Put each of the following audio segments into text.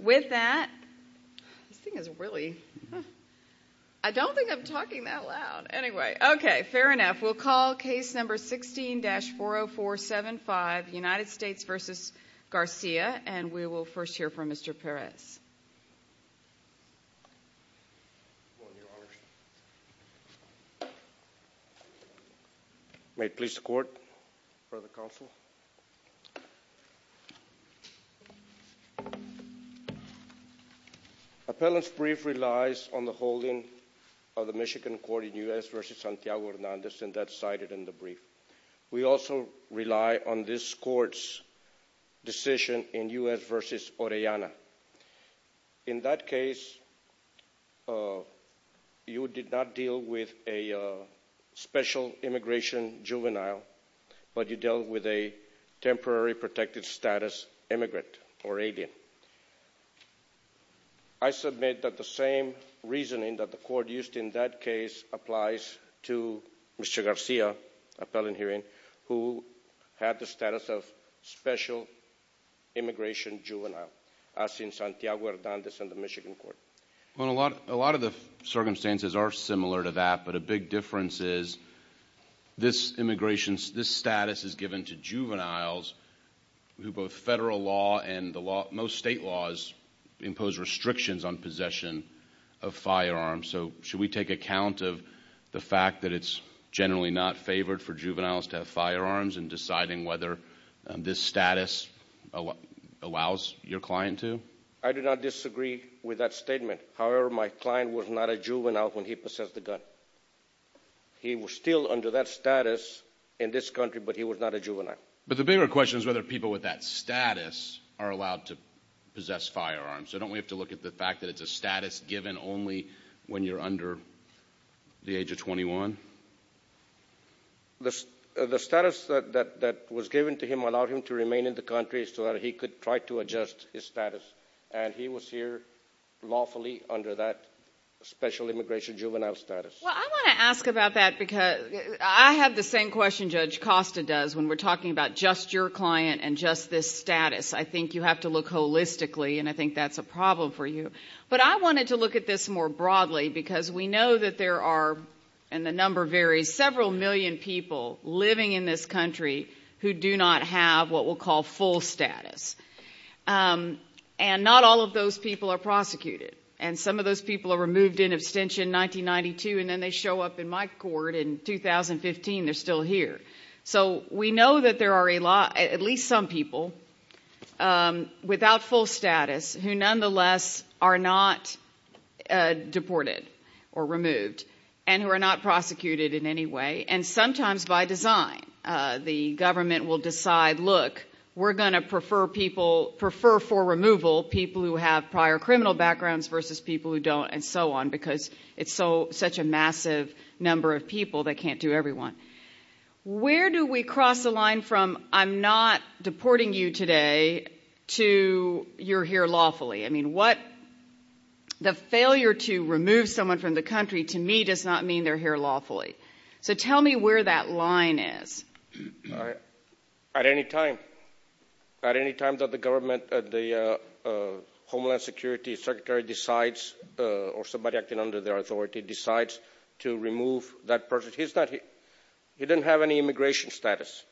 With that, this thing is really, I don't think I'm talking that loud. Anyway, okay, fair enough. We'll call case number 16-40475, United States v. Garcia, and we will first hear from Mr. Perez. May it please the court for the counsel. Appellant's brief relies on the holding of the Michigan court in U.S. v. Santiago Hernandez, and that's cited in the brief. We also rely on this court's decision in U.S. v. Orellana. In that case, you did not deal with a special immigration juvenile, but you dealt with a temporary protected status immigrant or alien. I submit that the same reasoning that the court used in that case applies to Mr. Garcia, appellant hearing, who had the status of special immigration juvenile. As in Santiago Hernandez and the Michigan court. Well, a lot of the circumstances are similar to that, but a big difference is this immigration, this status is given to juveniles who both federal law and most state laws impose restrictions on possession of firearms. So should we take account of the fact that it's generally not favored for juveniles to have firearms and deciding whether this status allows your client to? I do not disagree with that statement. However, my client was not a juvenile when he possessed the gun. He was still under that status in this country, but he was not a juvenile. But the bigger question is whether people with that status are allowed to possess firearms. So don't we have to look at the fact that it's a status given only when you're under the age of 21? The status that was given to him allowed him to remain in the country so that he could try to adjust his status. And he was here lawfully under that special immigration juvenile status. Well, I want to ask about that because I have the same question Judge Costa does when we're talking about just your client and just this status. I think you have to look holistically, and I think that's a problem for you. But I wanted to look at this more broadly because we know that there are, and the number varies, several million people living in this country who do not have what we'll call full status. And not all of those people are prosecuted. And some of those people are removed in abstention in 1992, and then they show up in my court in 2015. They're still here. So we know that there are a lot, at least some people, without full status who nonetheless are not deported or removed. And who are not prosecuted in any way. And sometimes by design, the government will decide, look, we're going to prefer for removal people who have prior criminal backgrounds versus people who don't, and so on. Because it's such a massive number of people, they can't do everyone. Where do we cross the line from I'm not deporting you today to you're here lawfully? I mean, the failure to remove someone from the country to me does not mean they're here lawfully. So tell me where that line is. At any time. At any time that the government, the Homeland Security Secretary decides, or somebody acting under their authority decides to remove that person. He doesn't have any immigration status.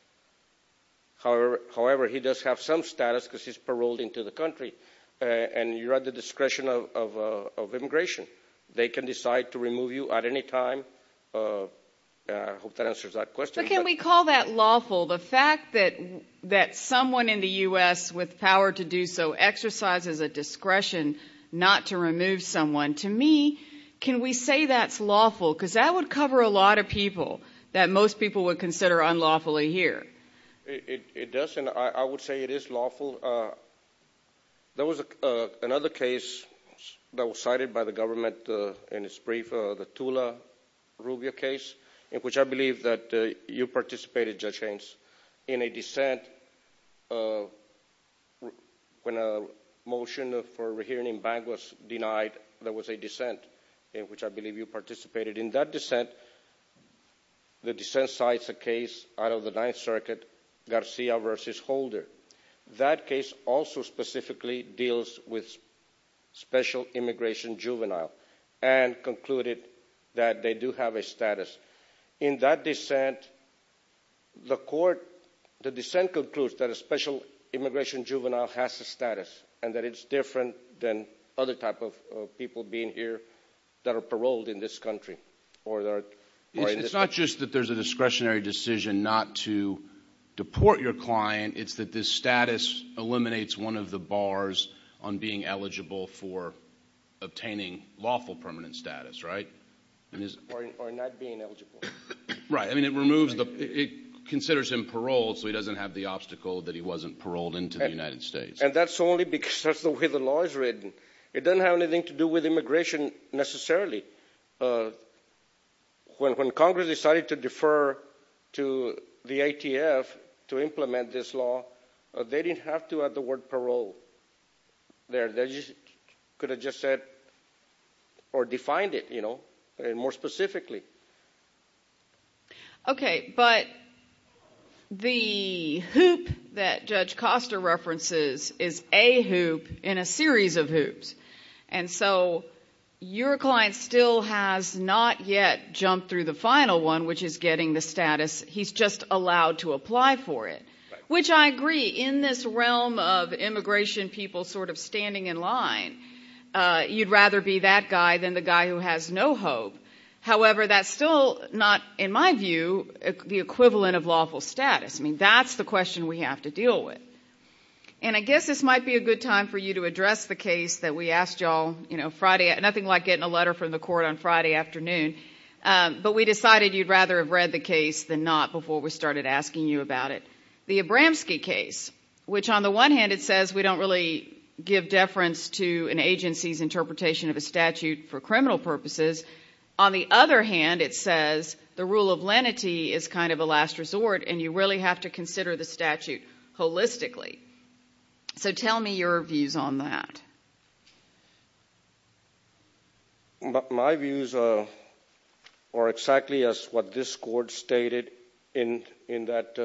However, he does have some status because he's paroled into the country. And you're at the discretion of immigration. They can decide to remove you at any time. I hope that answers that question. But can we call that lawful? The fact that someone in the U.S. with power to do so exercises a discretion not to remove someone. To me, can we say that's lawful? Because that would cover a lot of people that most people would consider unlawfully here. It does, and I would say it is lawful. There was another case that was cited by the government in its brief, the Tula-Rubio case, in which I believe that you participated, Judge Haynes, in a dissent. When a motion for a rehearing in bank was denied, there was a dissent in which I believe you participated. In that dissent, the dissent cites a case out of the Ninth Circuit, Garcia v. Holder. That case also specifically deals with special immigration juvenile and concluded that they do have a status. In that dissent, the court, the dissent concludes that a special immigration juvenile has a status and that it's different than other type of people being here that are paroled in this country. It's not just that there's a discretionary decision not to deport your client. It's that this status eliminates one of the bars on being eligible for obtaining lawful permanent status, right? Or not being eligible. Right. I mean, it removes the, it considers him paroled so he doesn't have the obstacle that he wasn't paroled into the United States. And that's only because that's the way the law is written. It doesn't have anything to do with immigration necessarily. When Congress decided to defer to the ATF to implement this law, they didn't have to add the word parole there. They could have just said or defined it, you know, more specifically. Okay, but the hoop that Judge Costa references is a hoop in a series of hoops. And so your client still has not yet jumped through the final one, which is getting the status he's just allowed to apply for it. Which I agree, in this realm of immigration people sort of standing in line, you'd rather be that guy than the guy who has no hope. However, that's still not, in my view, the equivalent of lawful status. I mean, that's the question we have to deal with. And I guess this might be a good time for you to address the case that we asked y'all, you know, Friday. Nothing like getting a letter from the court on Friday afternoon. But we decided you'd rather have read the case than not before we started asking you about it. The Abramski case, which on the one hand, it says we don't really give deference to an agency's interpretation of a statute for criminal purposes. On the other hand, it says the rule of lenity is kind of a last resort, and you really have to consider the statute holistically. So tell me your views on that. My views are exactly as what this court stated in that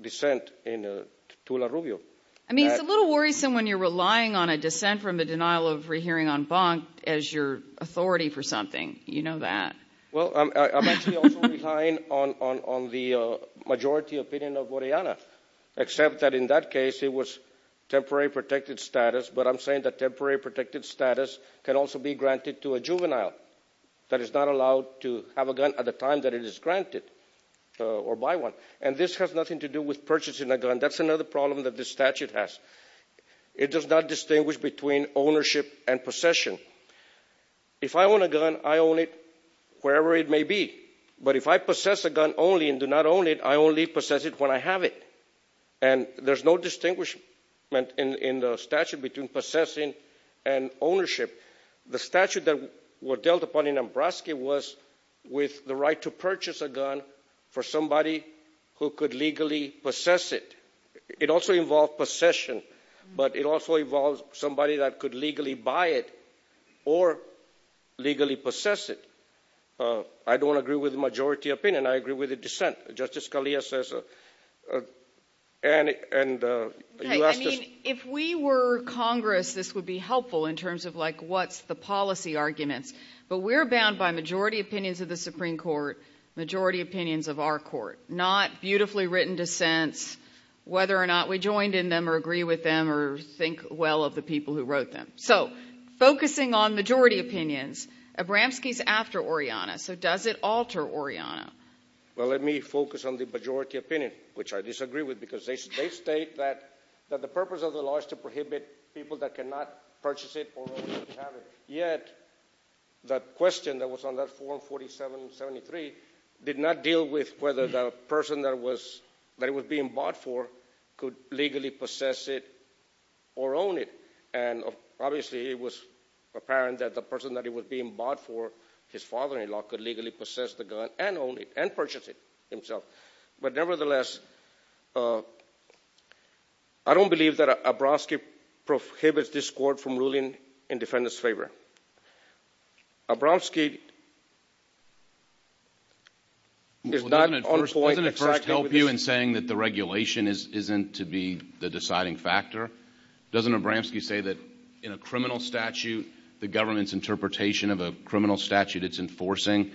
dissent in Tula Rubio. I mean, it's a little worrisome when you're relying on a dissent from the denial of rehearing en banc as your authority for something. You know that. Well, I'm actually also relying on the majority opinion of Oriana, except that in that case, it was temporary protected status. But I'm saying that temporary protected status can also be granted to a juvenile that is not allowed to have a gun at the time that it is granted or buy one. And this has nothing to do with purchasing a gun. That's another problem that this statute has. It does not distinguish between ownership and possession. If I own a gun, I own it wherever it may be. But if I possess a gun only and do not own it, I only possess it when I have it. And there's no distinguishment in the statute between possessing and ownership. The statute that was dealt upon in Nebraska was with the right to purchase a gun for somebody who could legally possess it. It also involved possession, but it also involves somebody that could legally buy it or legally possess it. I don't agree with the majority opinion. I agree with the dissent. Justice Scalia says. And if we were Congress, this would be helpful in terms of like, what's the policy arguments? But we're bound by majority opinions of the Supreme Court, majority opinions of our court, not beautifully written dissents, whether or not we joined in them or agree with them or think well of the people who wrote them. So focusing on majority opinions, Abramski's after Oriana. So does it alter Oriana? Well, let me focus on the majority opinion, which I disagree with because they state that the purpose of the law is to prohibit people that cannot purchase it or have it. Yet the question that was on that form 4773 did not deal with whether the person that was that it was being bought for could legally possess it or own it. And obviously, it was apparent that the person that it was being bought for, his father-in-law could legally possess the gun and own it and purchase it himself. But nevertheless, I don't believe that Abramski prohibits this court from ruling in defendants' favor. Abramski is not on point exactly with this. Doesn't it first help you in saying that the regulation isn't to be the deciding factor? Doesn't Abramski say that in a criminal statute, the government's interpretation of a criminal statute it's enforcing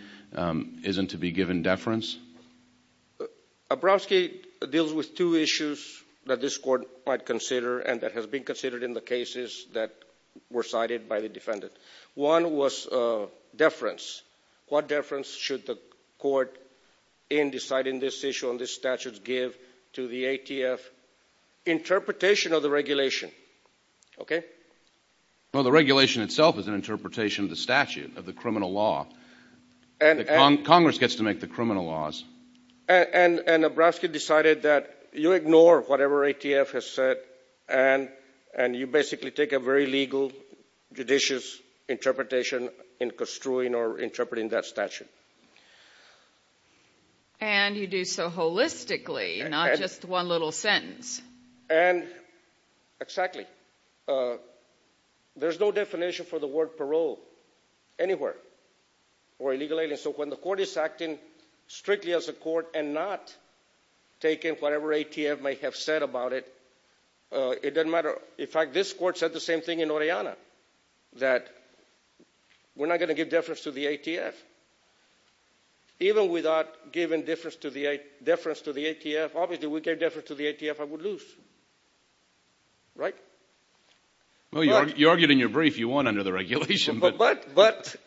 isn't to be given deference? Abramski deals with two issues that this court might consider and that has been considered in the cases that were cited by the defendant. One was deference. What deference should the court in deciding this issue on this statute give to the ATF? Interpretation of the regulation, okay? Well, the regulation itself is an interpretation of the statute, of the criminal law. Congress gets to make the criminal laws. And Abramski decided that you ignore whatever ATF has said and you basically take a very legal, judicious interpretation in construing or interpreting that statute. And you do so holistically, not just one little sentence. And exactly. There's no definition for the word parole anywhere or illegal alien. So when the court is acting strictly as a court and not taking whatever ATF might have said about it, it doesn't matter. In fact, this court said the same thing in Oriana, that we're not going to give deference to the ATF. Even without giving deference to the ATF, obviously we gave deference to the ATF, I would lose. Right? Well, you argued in your brief, you won under the regulation. But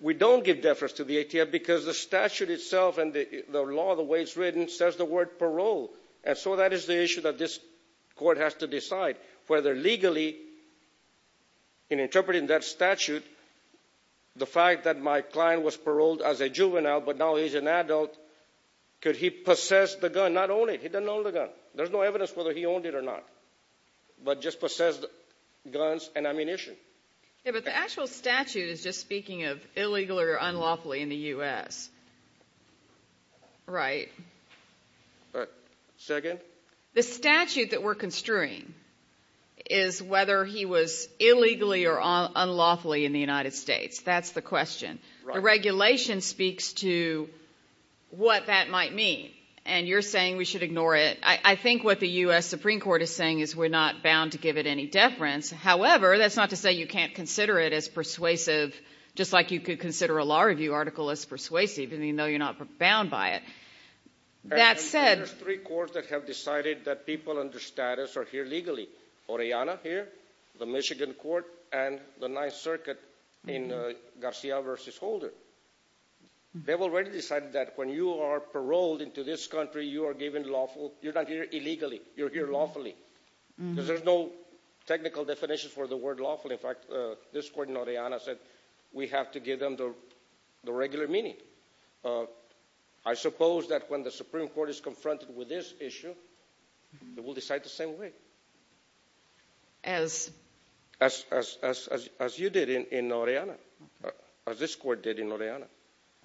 we don't give deference to the ATF because the statute itself and the law, the way it's written, says the word parole. And so that is the issue that this court has to decide. Whether legally, in interpreting that statute, the fact that my client was paroled as a juvenile but now he's an adult, could he possess the gun, not own it? He doesn't own the gun. There's no evidence whether he owned it or not. But just possessed guns and ammunition. But the actual statute is just speaking of illegal or unlawfully in the U.S. Right. Second. The statute that we're construing is whether he was illegally or unlawfully in the United States. That's the question. The regulation speaks to what that might mean. And you're saying we should ignore it. I think what the U.S. Supreme Court is saying is we're not bound to give it any deference. However, that's not to say you can't consider it as persuasive, just like you could consider a law review article as persuasive, even though you're not bound by it. That said... And there's three courts that have decided that people under status are here legally. Oriana here, the Michigan court, and the Ninth Circuit in Garcia v. Holder. They've already decided that when you are paroled into this country, you are given lawful. You're not here illegally. You're here lawfully. Because there's no technical definition for the word lawfully. In fact, this court in Oriana said we have to give them the regular meaning. I suppose that when the Supreme Court is confronted with this issue, it will decide the same way. As? As you did in Oriana, as this court did in Oriana.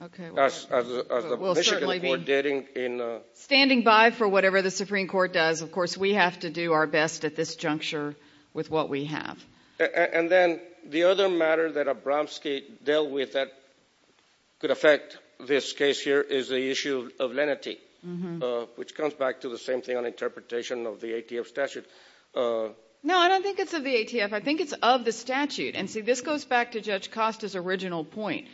Okay. As the Michigan court did in... Standing by for whatever the Supreme Court does, of course, we have to do our best at this juncture with what we have. And then the other matter that Abramski dealt with that could affect this case here is the issue of lenity, which comes back to the same thing on interpretation of the ATF statute. No, I don't think it's of the ATF. I think it's of the statute. And see, this goes back to Judge Costa's original point.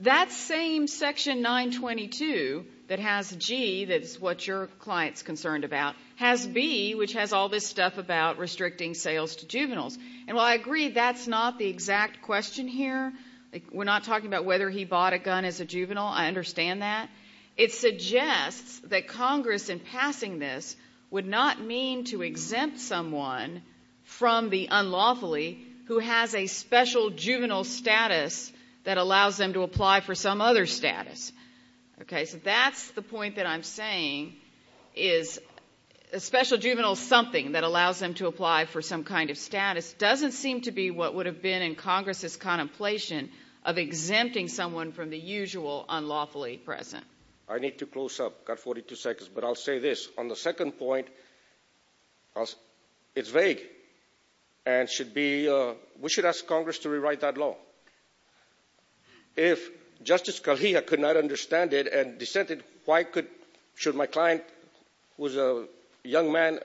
That same Section 922 that has G, that's what your client's concerned about, has B, which has all this stuff about restricting sales to juveniles. And while I agree, that's not the exact question here. We're not talking about whether he bought a gun as a juvenile. I understand that. It suggests that Congress, in passing this, would not mean to exempt someone from the some other status. Okay. So that's the point that I'm saying is a special juvenile something that allows them to apply for some kind of status doesn't seem to be what would have been in Congress's contemplation of exempting someone from the usual unlawfully present. I need to close up. Got 42 seconds. But I'll say this. On the second point, it's vague. And we should ask Congress to rewrite that law. If Justice Scalia could not understand it and dissented, why should my client, who's a young man,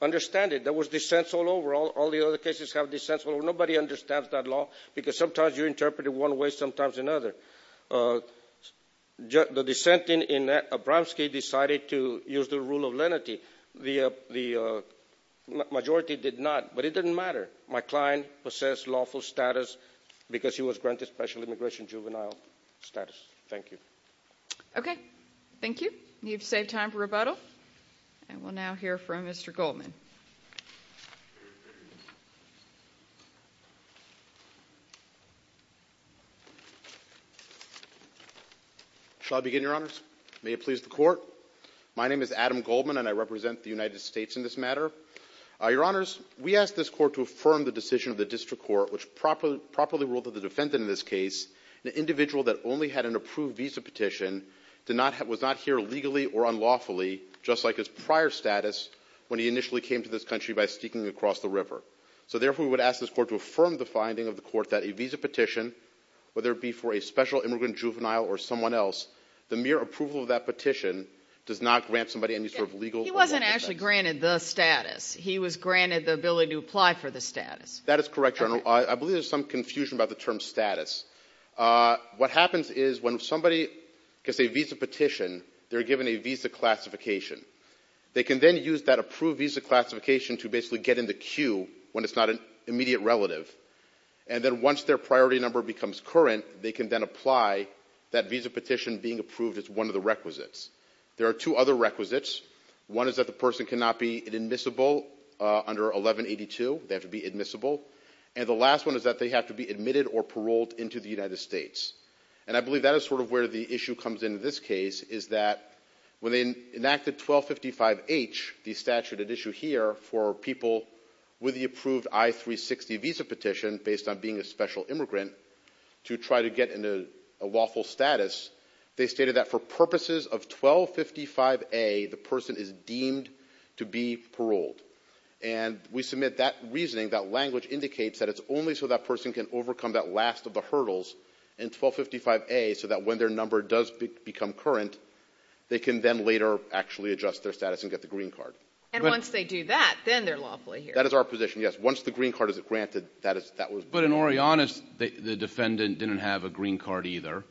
understand it? There was dissents all over. All the other cases have dissents. Nobody understands that law because sometimes you interpret it one way, sometimes another. The dissenting in Abramski decided to use the rule of lenity. The majority did not. But it didn't matter. My client possessed lawful status because he was granted special immigration juvenile status. Thank you. Okay. Thank you. Need to save time for rebuttal. And we'll now hear from Mr. Goldman. Shall I begin, Your Honors? May it please the Court. My name is Adam Goldman, and I represent the United States in this matter. Your Honors, we ask this Court to affirm the decision of the District Court, which properly ruled that the defendant in this case, an individual that only had an approved visa petition, was not here legally or unlawfully, just like his prior status when he initially came to this country by sneaking across the river. So therefore, we would ask this Court to affirm the finding of the Court that a visa petition, whether it be for a special immigrant juvenile or someone else, the mere approval of that petition does not grant somebody any sort of legal— He wasn't actually granted the status. He was granted the ability to apply for the status. That is correct, Your Honor. I believe there's some confusion about the term status. What happens is when somebody gets a visa petition, they're given a visa classification. They can then use that approved visa classification to basically get in the queue when it's not an immediate relative. And then once their priority number becomes current, they can then apply that visa petition being approved as one of the requisites. There are two other requisites. One is that the person cannot be admissible under 1182. They have to be admissible. And the last one is that they have to be admitted or paroled into the United States. And I believe that is sort of where the issue comes into this case, is that when they enacted 1255H, the statute at issue here, for people with the approved I-360 visa petition, based on being a special immigrant, to try to get into a lawful status, they stated that for purposes of 1255A, the person is deemed to be paroled. And we submit that reasoning, that language indicates that it's only so that person can overcome that last of the hurdles in 1255A so that when their number does become current, they can then later actually adjust their status and get the green card. And once they do that, then they're lawfully here. That is our position, yes. Once the green card is granted, that is, that was. But in Orianas, the defendant didn't have a green card either.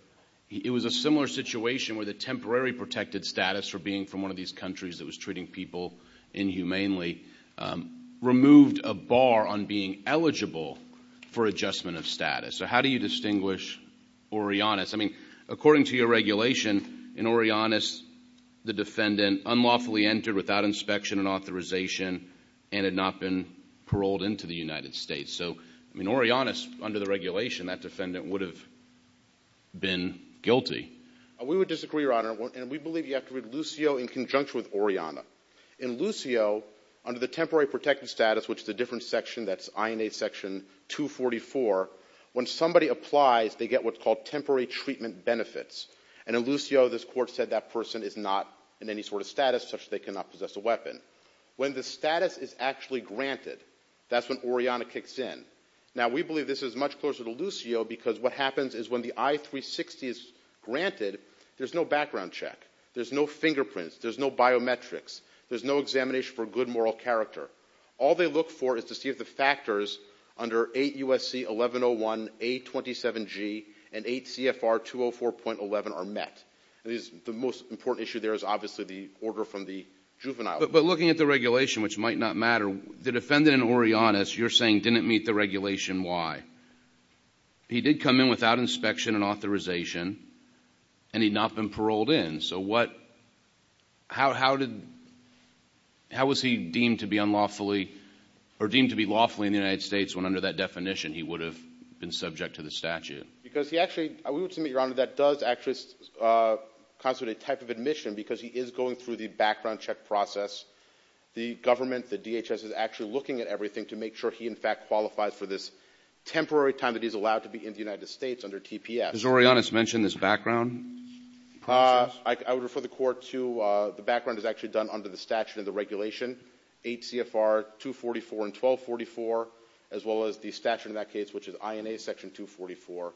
It was a similar situation where the temporary protected status for being from one of these countries that was treating people inhumanely removed a bar on being eligible for adjustment of status. So how do you distinguish Orianas? I mean, according to your regulation, in Orianas, the defendant unlawfully entered without inspection and authorization and had not been paroled into the United States. So, I mean, Orianas, under the regulation, that defendant would have been guilty. We would disagree, Your Honor. And we believe you have to read Lucio in conjunction with Oriana. In Lucio, under the temporary protected status, which is a different section, that's INA section 244, when somebody applies, they get what's called temporary treatment benefits. And in Lucio, this court said that person is not in any sort of status such that they cannot possess a weapon. When the status is actually granted, that's when Oriana kicks in. Now, we believe this is much closer to Lucio because what happens is when the I-360 is granted, there's no background check. There's no fingerprints. There's no biometrics. There's no examination for good moral character. All they look for is to see if the factors under 8 U.S.C. 1101 A27G and 8 CFR 204.11 are met. The most important issue there is obviously the order from the juvenile. But looking at the regulation, which might not matter, the defendant in Oriana, as you're saying, didn't meet the regulation. Why? He did come in without inspection and authorization, and he'd not been paroled in. So how was he deemed to be unlawfully or deemed to be lawfully in the United States when under that definition he would have been subject to the statute? Because he actually, we would submit, Your Honor, that does actually constitute a type of admission because he is going through the background check process. The government, the DHS, is actually looking at everything to make sure he, in fact, qualifies for this temporary time that he's allowed to be in the United States under TPS. Has Oriana mentioned this background process? I would refer the Court to the background is actually done under the statute and the regulation, 8 CFR 244 and 1244, as well as the statute in that case, which is INA Section 244.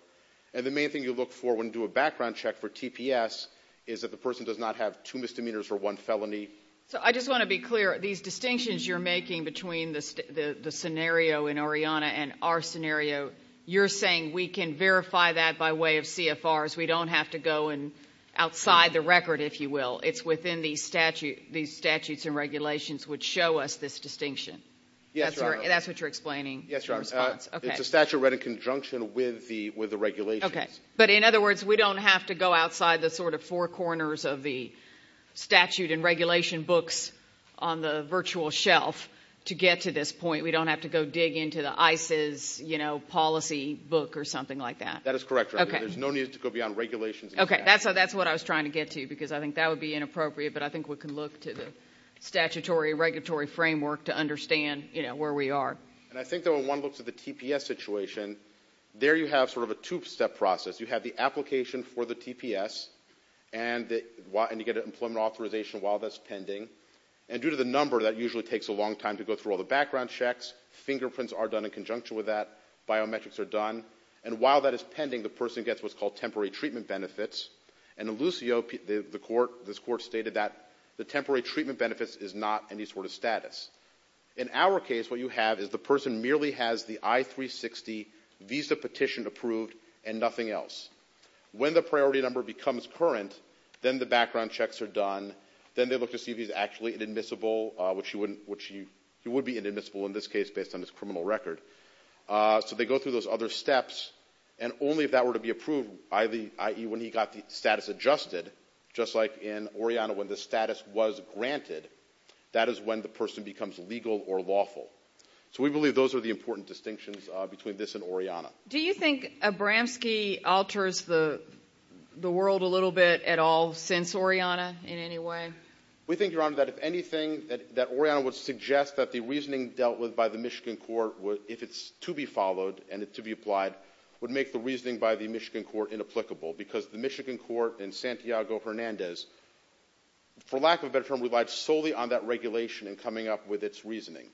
And the main thing you look for when you do a background check for TPS is that the person does not have two misdemeanors or one felony. So I just want to be clear. These distinctions you're making between the scenario in Oriana and our scenario, you're saying we can verify that by way of CFRs. We don't have to go outside the record, if you will. It's within these statutes and regulations which show us this distinction. Yes, Your Honor. That's what you're explaining? Yes, Your Honor. It's a statute read in conjunction with the regulations. Okay. But in other words, we don't have to go outside the sort of four corners of the statute and regulation books on the virtual shelf to get to this point. We don't have to go dig into the ICE's policy book or something like that. That is correct, Your Honor. There's no need to go beyond regulations. Okay. That's what I was trying to get to because I think that would be inappropriate, but I think we can look to the statutory regulatory framework to understand where we are. And I think that when one looks at the TPS situation, there you have sort of a two-step process. You have the application for the TPS and you get an employment authorization while that's pending. And due to the number, that usually takes a long time to go through all the background checks. Fingerprints are done in conjunction with that. Biometrics are done. And while that is pending, the person gets what's called temporary treatment benefits. And in Lucio, the court, this court stated that the temporary treatment benefits is not any sort of status. In our case, what you have is the person merely has the I-360 visa petition approved and nothing else. When the priority number becomes current, then the background checks are done. Then they look to see if he's actually inadmissible, which he would be inadmissible in this case based on his criminal record. So they go through those other steps. And only if that were to be approved, i.e. when he got the status adjusted, just like in Oriana, when the status was granted, that is when the person becomes legal or lawful. So we believe those are the important distinctions between this and Oriana. Do you think Abramski alters the world a little bit at all since Oriana in any way? We think, Your Honor, that if anything, that Oriana would suggest that the reasoning dealt with by the Michigan court, if it's to be followed and to be applied, would make the reasoning by the Michigan court inapplicable. Because the Michigan court in Santiago-Hernandez, for lack of a better term, relied solely on that regulation and coming up with its reasoning.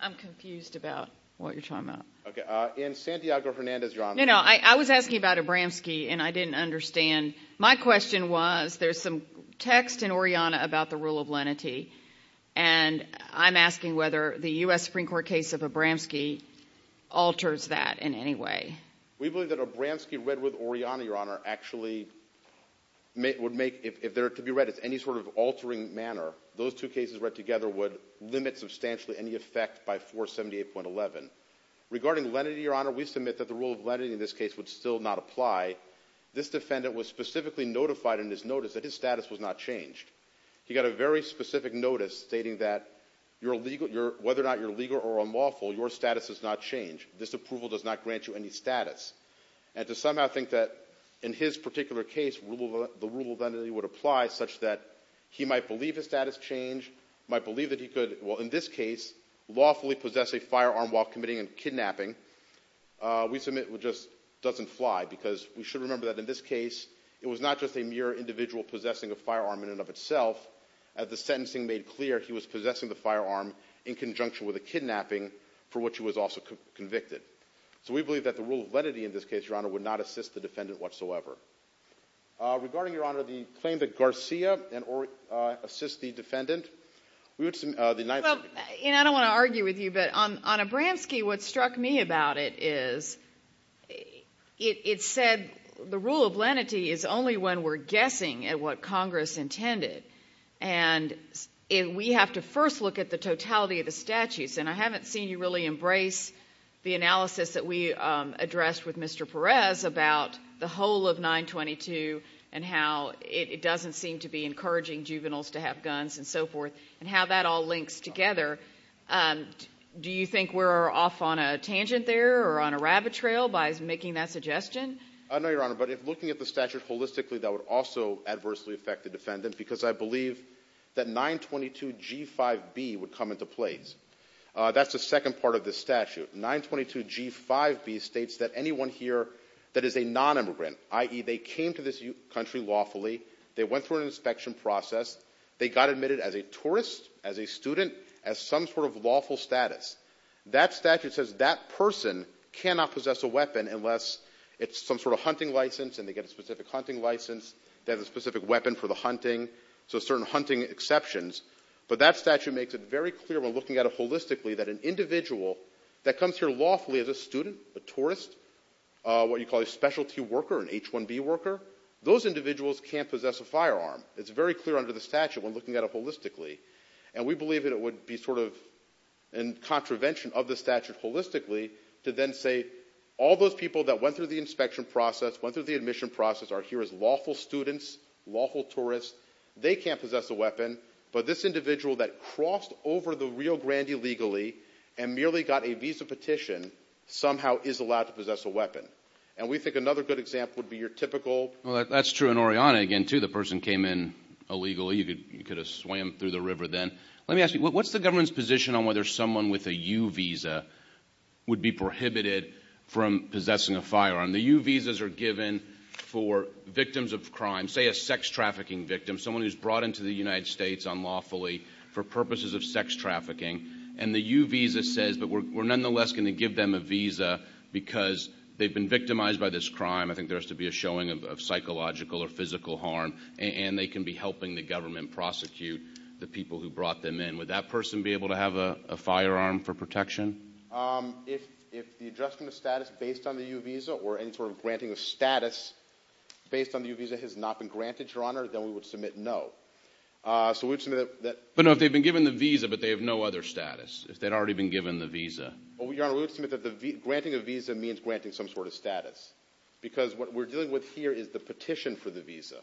I'm confused about what you're talking about. In Santiago-Hernandez, Your Honor— No, no. I was asking about Abramski and I didn't understand. My question was, there's some text in Oriana about the rule of lenity, and I'm asking whether the U.S. Supreme Court case of Abramski alters that in any way. We believe that Abramski read with Oriana, Your Honor, actually would make—if they're to be read as any sort of altering manner, those two cases read together would limit substantially any effect by 478.11. Regarding lenity, Your Honor, we submit that the rule of lenity in this case would still not apply. This defendant was specifically notified in his notice that his status was not changed. He got a very specific notice stating that whether or not you're legal or unlawful, your status has not changed. This approval does not grant you any status. And to somehow think that in his particular case, the rule of lenity would apply such that he might believe his status changed, might believe that he could, well, in this case, lawfully possess a firearm while committing a kidnapping, we submit just doesn't fly because we should remember that in this case, it was not just a mere individual possessing a firearm in and of itself. As the sentencing made clear, he was possessing the firearm in conjunction with a kidnapping for which he was also convicted. So we believe that the rule of lenity in this case, Your Honor, would not assist the defendant whatsoever. Regarding, Your Honor, the claim that Garcia and Orrick assist the defendant, we would submit the United States. Well, and I don't want to argue with you, but on Abramski, what struck me about it is it said the rule of lenity is only when we're guessing at what Congress intended. And we have to first look at the totality of the statutes. And I haven't seen you really embrace the analysis that we addressed with Mr. Perez about the whole of 922 and how it doesn't seem to be encouraging juveniles to have guns and so forth and how that all links together. Do you think we're off on a tangent there or on a rabbit trail by making that suggestion? No, Your Honor. But if looking at the statute holistically, that would also adversely affect the defendant because I believe that 922G5B would come into place. That's the second part of this statute. 922G5B states that anyone here that is a non-immigrant, i.e., they came to this country lawfully, they went through an inspection process, they got admitted as a tourist, as a student, as some sort of lawful status, that statute says that person cannot possess a weapon unless it's some sort of hunting license and they get a specific hunting license, they have a specific weapon for the hunting, so certain hunting exceptions. But that statute makes it very clear when looking at it holistically that an individual that comes here lawfully as a student, a tourist, what you call a specialty worker, an H1B worker, those individuals can't possess a firearm. It's very clear under the statute when looking at it holistically. And we believe that it would be sort of in contravention of the statute holistically to then say all those people that went through the inspection process, went through the admission process, are here as lawful students, lawful tourists, they can't possess a weapon, but this individual that crossed over the Rio Grande illegally and merely got a visa petition somehow is allowed to possess a weapon. And we think another good example would be your typical... Well, that's true in Oriana, again, too, the person came in illegally, you could have swam through the river then. Let me ask you, what's the government's position on whether someone with a U visa would be prohibited from possessing a firearm? The U visas are given for victims of crime, say a sex trafficking victim, someone who's brought into the United States unlawfully for purposes of sex trafficking, and the U visa says, but we're nonetheless going to give them a visa because they've been victimized by this crime. I think there has to be a showing of psychological or physical harm, and they can be helping the government prosecute the people who brought them in. Would that person be able to have a firearm for protection? If the adjustment of status based on the U visa or any sort of granting of status based on the U visa has not been granted, Your Honor, then we would submit no. But no, if they've been given the visa, but they have no other status, if they'd already been given the visa. Your Honor, we would submit that granting a visa means granting some sort of status, because what we're dealing with here is the petition for the visa.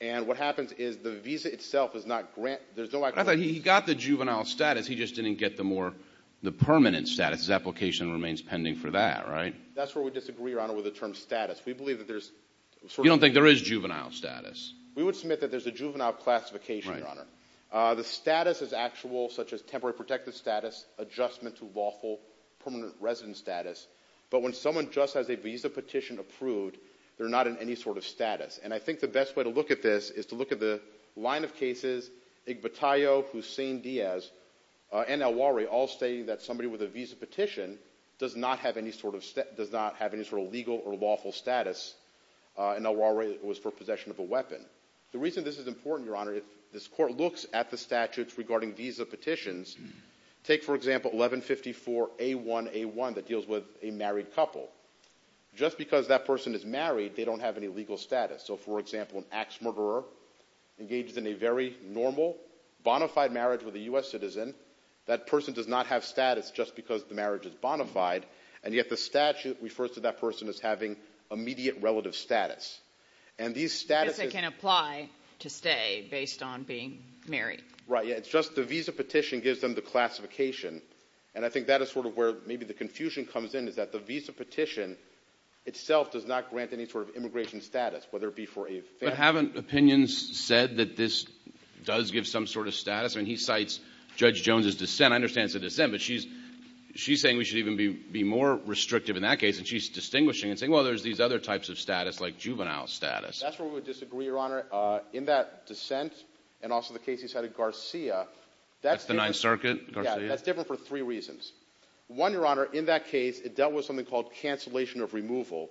And what happens is the visa itself is not granted, there's no... But I thought he got the juvenile status, he just didn't get the more, the permanent status. His application remains pending for that, right? That's where we disagree, Your Honor, with the term status. We believe that there's... You don't think there is juvenile status? We would submit that there's a juvenile classification, Your Honor. The status is actual, such as temporary protective status, adjustment to lawful permanent resident status. But when someone just has a visa petition approved, they're not in any sort of status. And I think the best way to look at this is to look at the line of cases, Iguatayo, Hussain Diaz, and Elwari, all stating that somebody with a visa petition does not have any sort of legal or lawful status, and Elwari was for possession of a weapon. The reason this is important, Your Honor, if this court looks at the statutes regarding visa petitions, take for example 1154A1A1 that deals with a married couple. Just because that person is married, they don't have any legal status. So, for example, an axe murderer engages in a very normal, bona fide marriage with a U.S. citizen. That person does not have status just because the marriage is bona fide, and yet the statute refers to that person as having immediate relative status. And these statuses... Because they can apply to stay based on being married. Right, yeah. It's just the visa petition gives them the classification. And I think that is sort of where maybe the confusion comes in, is that the visa petition itself does not grant any sort of immigration status, whether it be for a family... But haven't opinions said that this does give some sort of status? I mean, he cites Judge Jones' dissent. I understand it's a dissent, but she's saying we should even be more restrictive in that case, and she's distinguishing and saying, well, there's these other types of status like juvenile status. That's where we would disagree, Your Honor. In that dissent, and also the case he cited Garcia, that's different... That's the Ninth Circuit, Garcia? Yeah, that's different for three reasons. One, Your Honor, in that case, it dealt with something called cancellation of removal,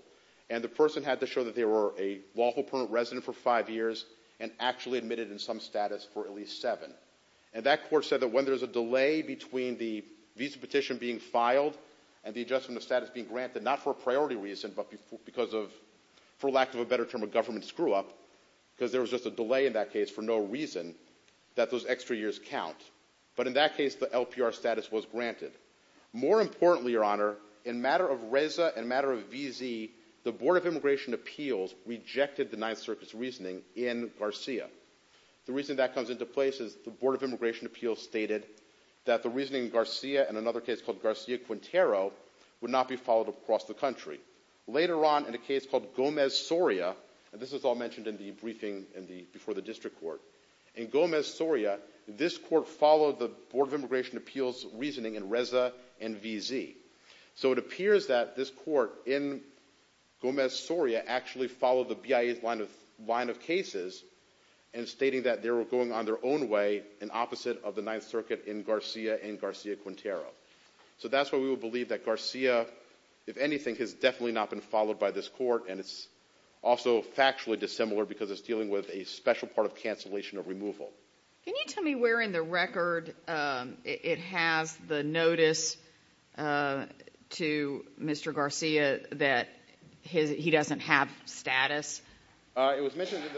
and the person had to show that they were a lawful permanent resident for five years and actually admitted in some status for at least seven. And that court said that when there's a delay between the visa petition being filed and the adjustment of status being granted, not for a priority reason, but because of, for lack of a better term, a government screw-up, because there was just a delay in that case for no reason, that those extra years count. But in that case, the LPR status was granted. More importantly, Your Honor, in matter of RESA and matter of VZ, the Board of Immigration Appeals rejected the Ninth Circuit's reasoning in Garcia. The reason that comes into place is the Board of Immigration Appeals stated that the reasoning in Garcia and another case called Garcia-Quintero would not be followed across the country. Later on, in a case called Gomez-Soria, and this was all mentioned in the briefing before the district court, in Gomez-Soria, this court followed the Board of Immigration Appeals reasoning in RESA and VZ. So it appears that this court in Gomez-Soria actually followed the BIA's line of cases and stating that they were going on their own way in opposite of the Ninth Circuit in Garcia and Garcia-Quintero. So that's why we would believe that Garcia, if anything, has definitely not been followed by this court. And it's also factually dissimilar because it's dealing with a special part of cancellation of removal. Can you tell me where in the record it has the notice to Mr. Garcia that he doesn't have status? It was mentioned in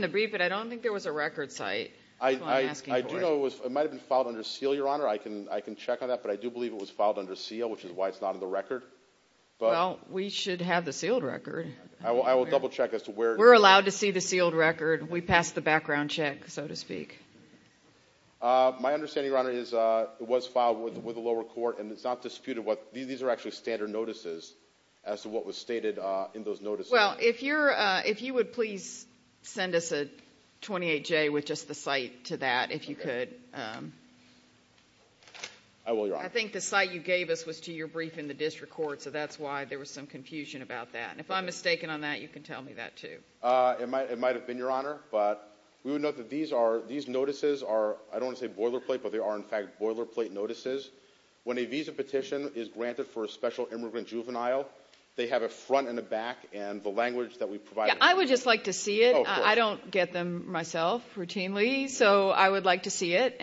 the briefing, but I don't think there was a record site. I do know it might have been filed under seal, Your Honor. I can check on that, but I do believe it was filed under seal, which is why it's not on the record. Well, we should have the sealed record. I will double-check as to where. We're allowed to see the sealed record. We passed the background check, so to speak. My understanding, Your Honor, is it was filed with the lower court, and it's not disputed what these are actually standard notices as to what was stated in those notices. Well, if you would please send us a 28-J with just the site to that, if you could. I will, Your Honor. I think the site you gave us was to your briefing in the district court, so that's why there was some confusion about that. If I'm mistaken on that, you can tell me that, too. It might have been, Your Honor, but we would note that these notices are, I don't want to say boilerplate, but they are in fact boilerplate notices. When a visa petition is granted for a special immigrant juvenile, they have a front and a back, and the language that we provide. I would just like to see it. I don't get them myself routinely, so I would like to see it.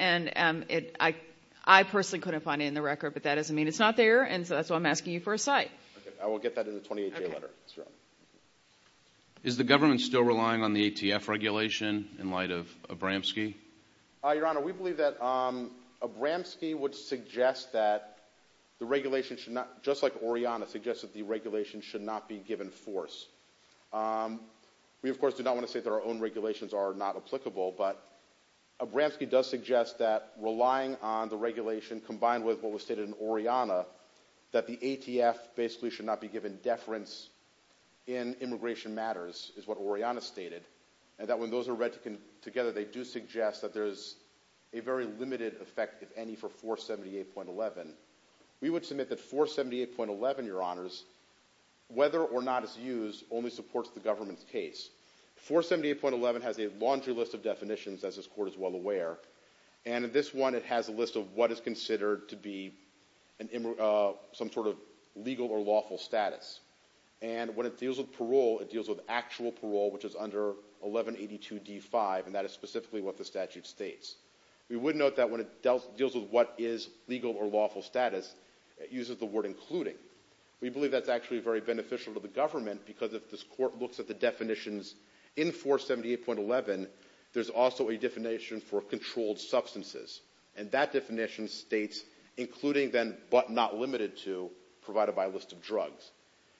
I personally couldn't find it in the record, but that doesn't mean it's not there, and so that's why I'm asking you for a site. I will get that in the 28-J letter, Your Honor. Is the government still relying on the ATF regulation in light of Abramski? Your Honor, we believe that Abramski would suggest that the regulation should not, just like Oriana, suggests that the regulation should not be given force. We, of course, do not want to say that our own regulations are not applicable, but Abramski does suggest that relying on the regulation combined with what was stated in Oriana, that the ATF basically should not be given deference in immigration matters, is what Oriana stated, and that when those are read together, they do suggest that there's a very limited effect, if any, for 478.11. We would submit that 478.11, Your Honors, whether or not it's used, only supports the government's case. 478.11 has a laundry list of definitions, as this Court is well aware, and in this one, it has a list of what is considered to be some sort of legal or lawful status, and when it deals with parole, it deals with actual parole, which is under 1182d5, and that is specifically what the statute states. We would note that when it deals with what is legal or lawful status, it uses the word including. We believe that's actually very beneficial to the government, because if this Court looks at the definitions in 478.11, there's also a definition for controlled substances, and that definition states, including then, but not limited to, provided by a list of drugs.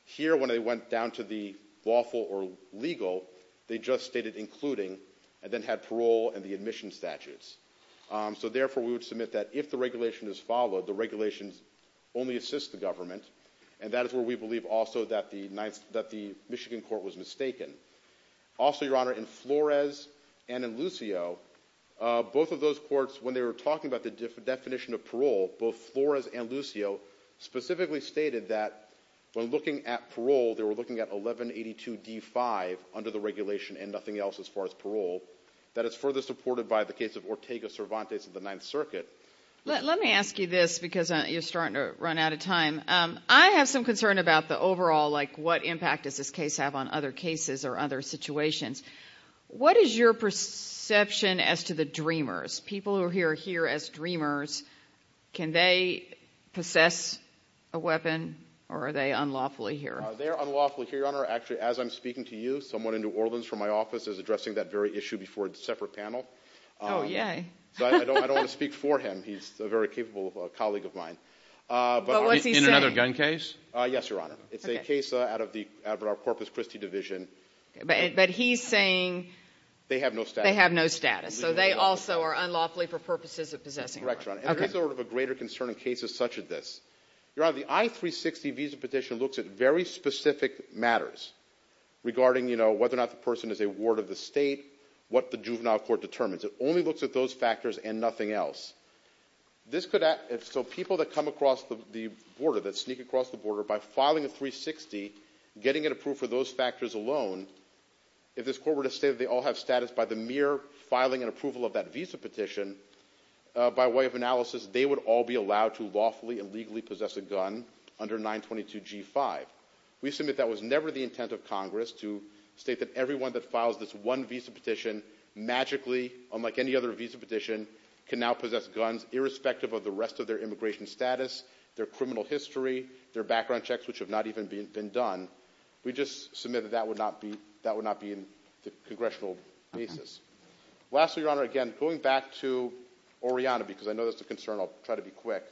Here when they went down to the lawful or legal, they just stated including, and then had parole and the admission statutes. So therefore, we would submit that if the regulation is followed, the regulations only assist the government, and that is where we believe also that the Michigan Court was mistaken. Also, Your Honor, in Flores and in Lucio, both of those courts, when they were talking about the definition of parole, both Flores and Lucio specifically stated that when looking at parole, they were looking at 1182d5 under the regulation and nothing else as far as parole. That is further supported by the case of Ortega Cervantes of the Ninth Circuit. Let me ask you this, because you're starting to run out of time. I have some concern about the overall, like what impact does this case have on other cases or other situations. What is your perception as to the DREAMers? People who are here as DREAMers, can they possess a weapon, or are they unlawfully here? They're unlawfully here, Your Honor. Actually, as I'm speaking to you, someone in New Orleans from my office is addressing that very issue before a separate panel. Oh, yay. So I don't want to speak for him. He's a very capable colleague of mine. But what's he saying? In another gun case? Yes, Your Honor. It's a case out of our Corpus Christi division. But he's saying... They have no status. They have no status. So they also are unlawfully for purposes of possessing a weapon. Correct, Your Honor. And there is sort of a greater concern in cases such as this. Your Honor, the I-360 visa petition looks at very specific matters regarding whether or not the person is a ward of the state, what the juvenile court determines. It only looks at those factors and nothing else. This could... So people that come across the border, that sneak across the border, by filing a 360, getting it approved for those factors alone, if this court were to state that they all have status by the mere filing and approval of that visa petition, by way of analysis, they would all be allowed to lawfully and legally possess a gun under 922 G5. We submit that was never the intent of Congress to state that everyone that files this one visa petition can now possess guns, irrespective of the rest of their immigration status, their criminal history, their background checks, which have not even been done. We just submit that that would not be in the congressional basis. Lastly, Your Honor, again, going back to Oriana, because I know that's a concern, I'll try to be quick.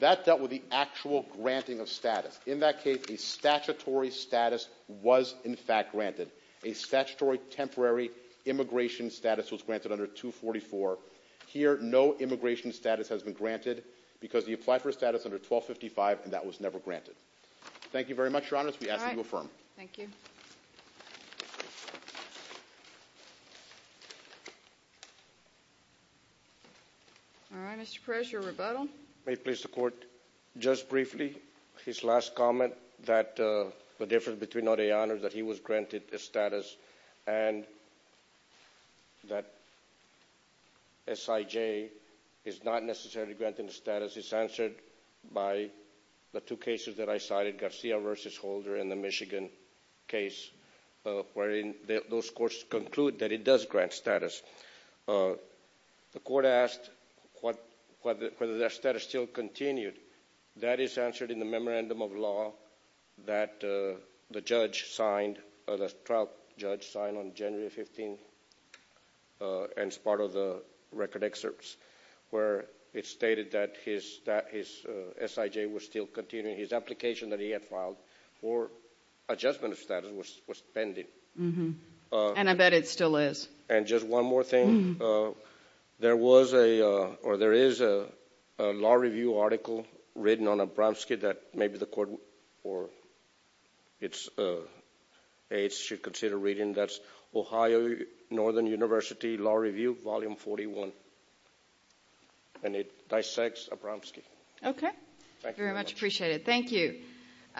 That dealt with the actual granting of status. In that case, a statutory status was in fact granted. A statutory temporary immigration status was granted under 244. Here no immigration status has been granted, because the apply for status under 1255, and that was never granted. Thank you very much, Your Honor. We ask that you affirm. Thank you. All right, Mr. Perez, your rebuttal. May it please the Court, just briefly, his last comment, that the difference between granted status and that SIJ is not necessarily granted status is answered by the two cases that I cited, Garcia v. Holder and the Michigan case, wherein those courts conclude that it does grant status. The Court asked whether that status still continued. That is answered in the memorandum of law that the trial judge signed on January 15th, and it's part of the record excerpts, where it's stated that his SIJ was still continuing. His application that he had filed for adjustment of status was pending. And I bet it still is. And just one more thing, there is a law review article written on Abramski that maybe the Court or its aides should consider reading. That's Ohio Northern University Law Review, Volume 41, and it dissects Abramski. Okay. Thank you very much. Very much appreciated.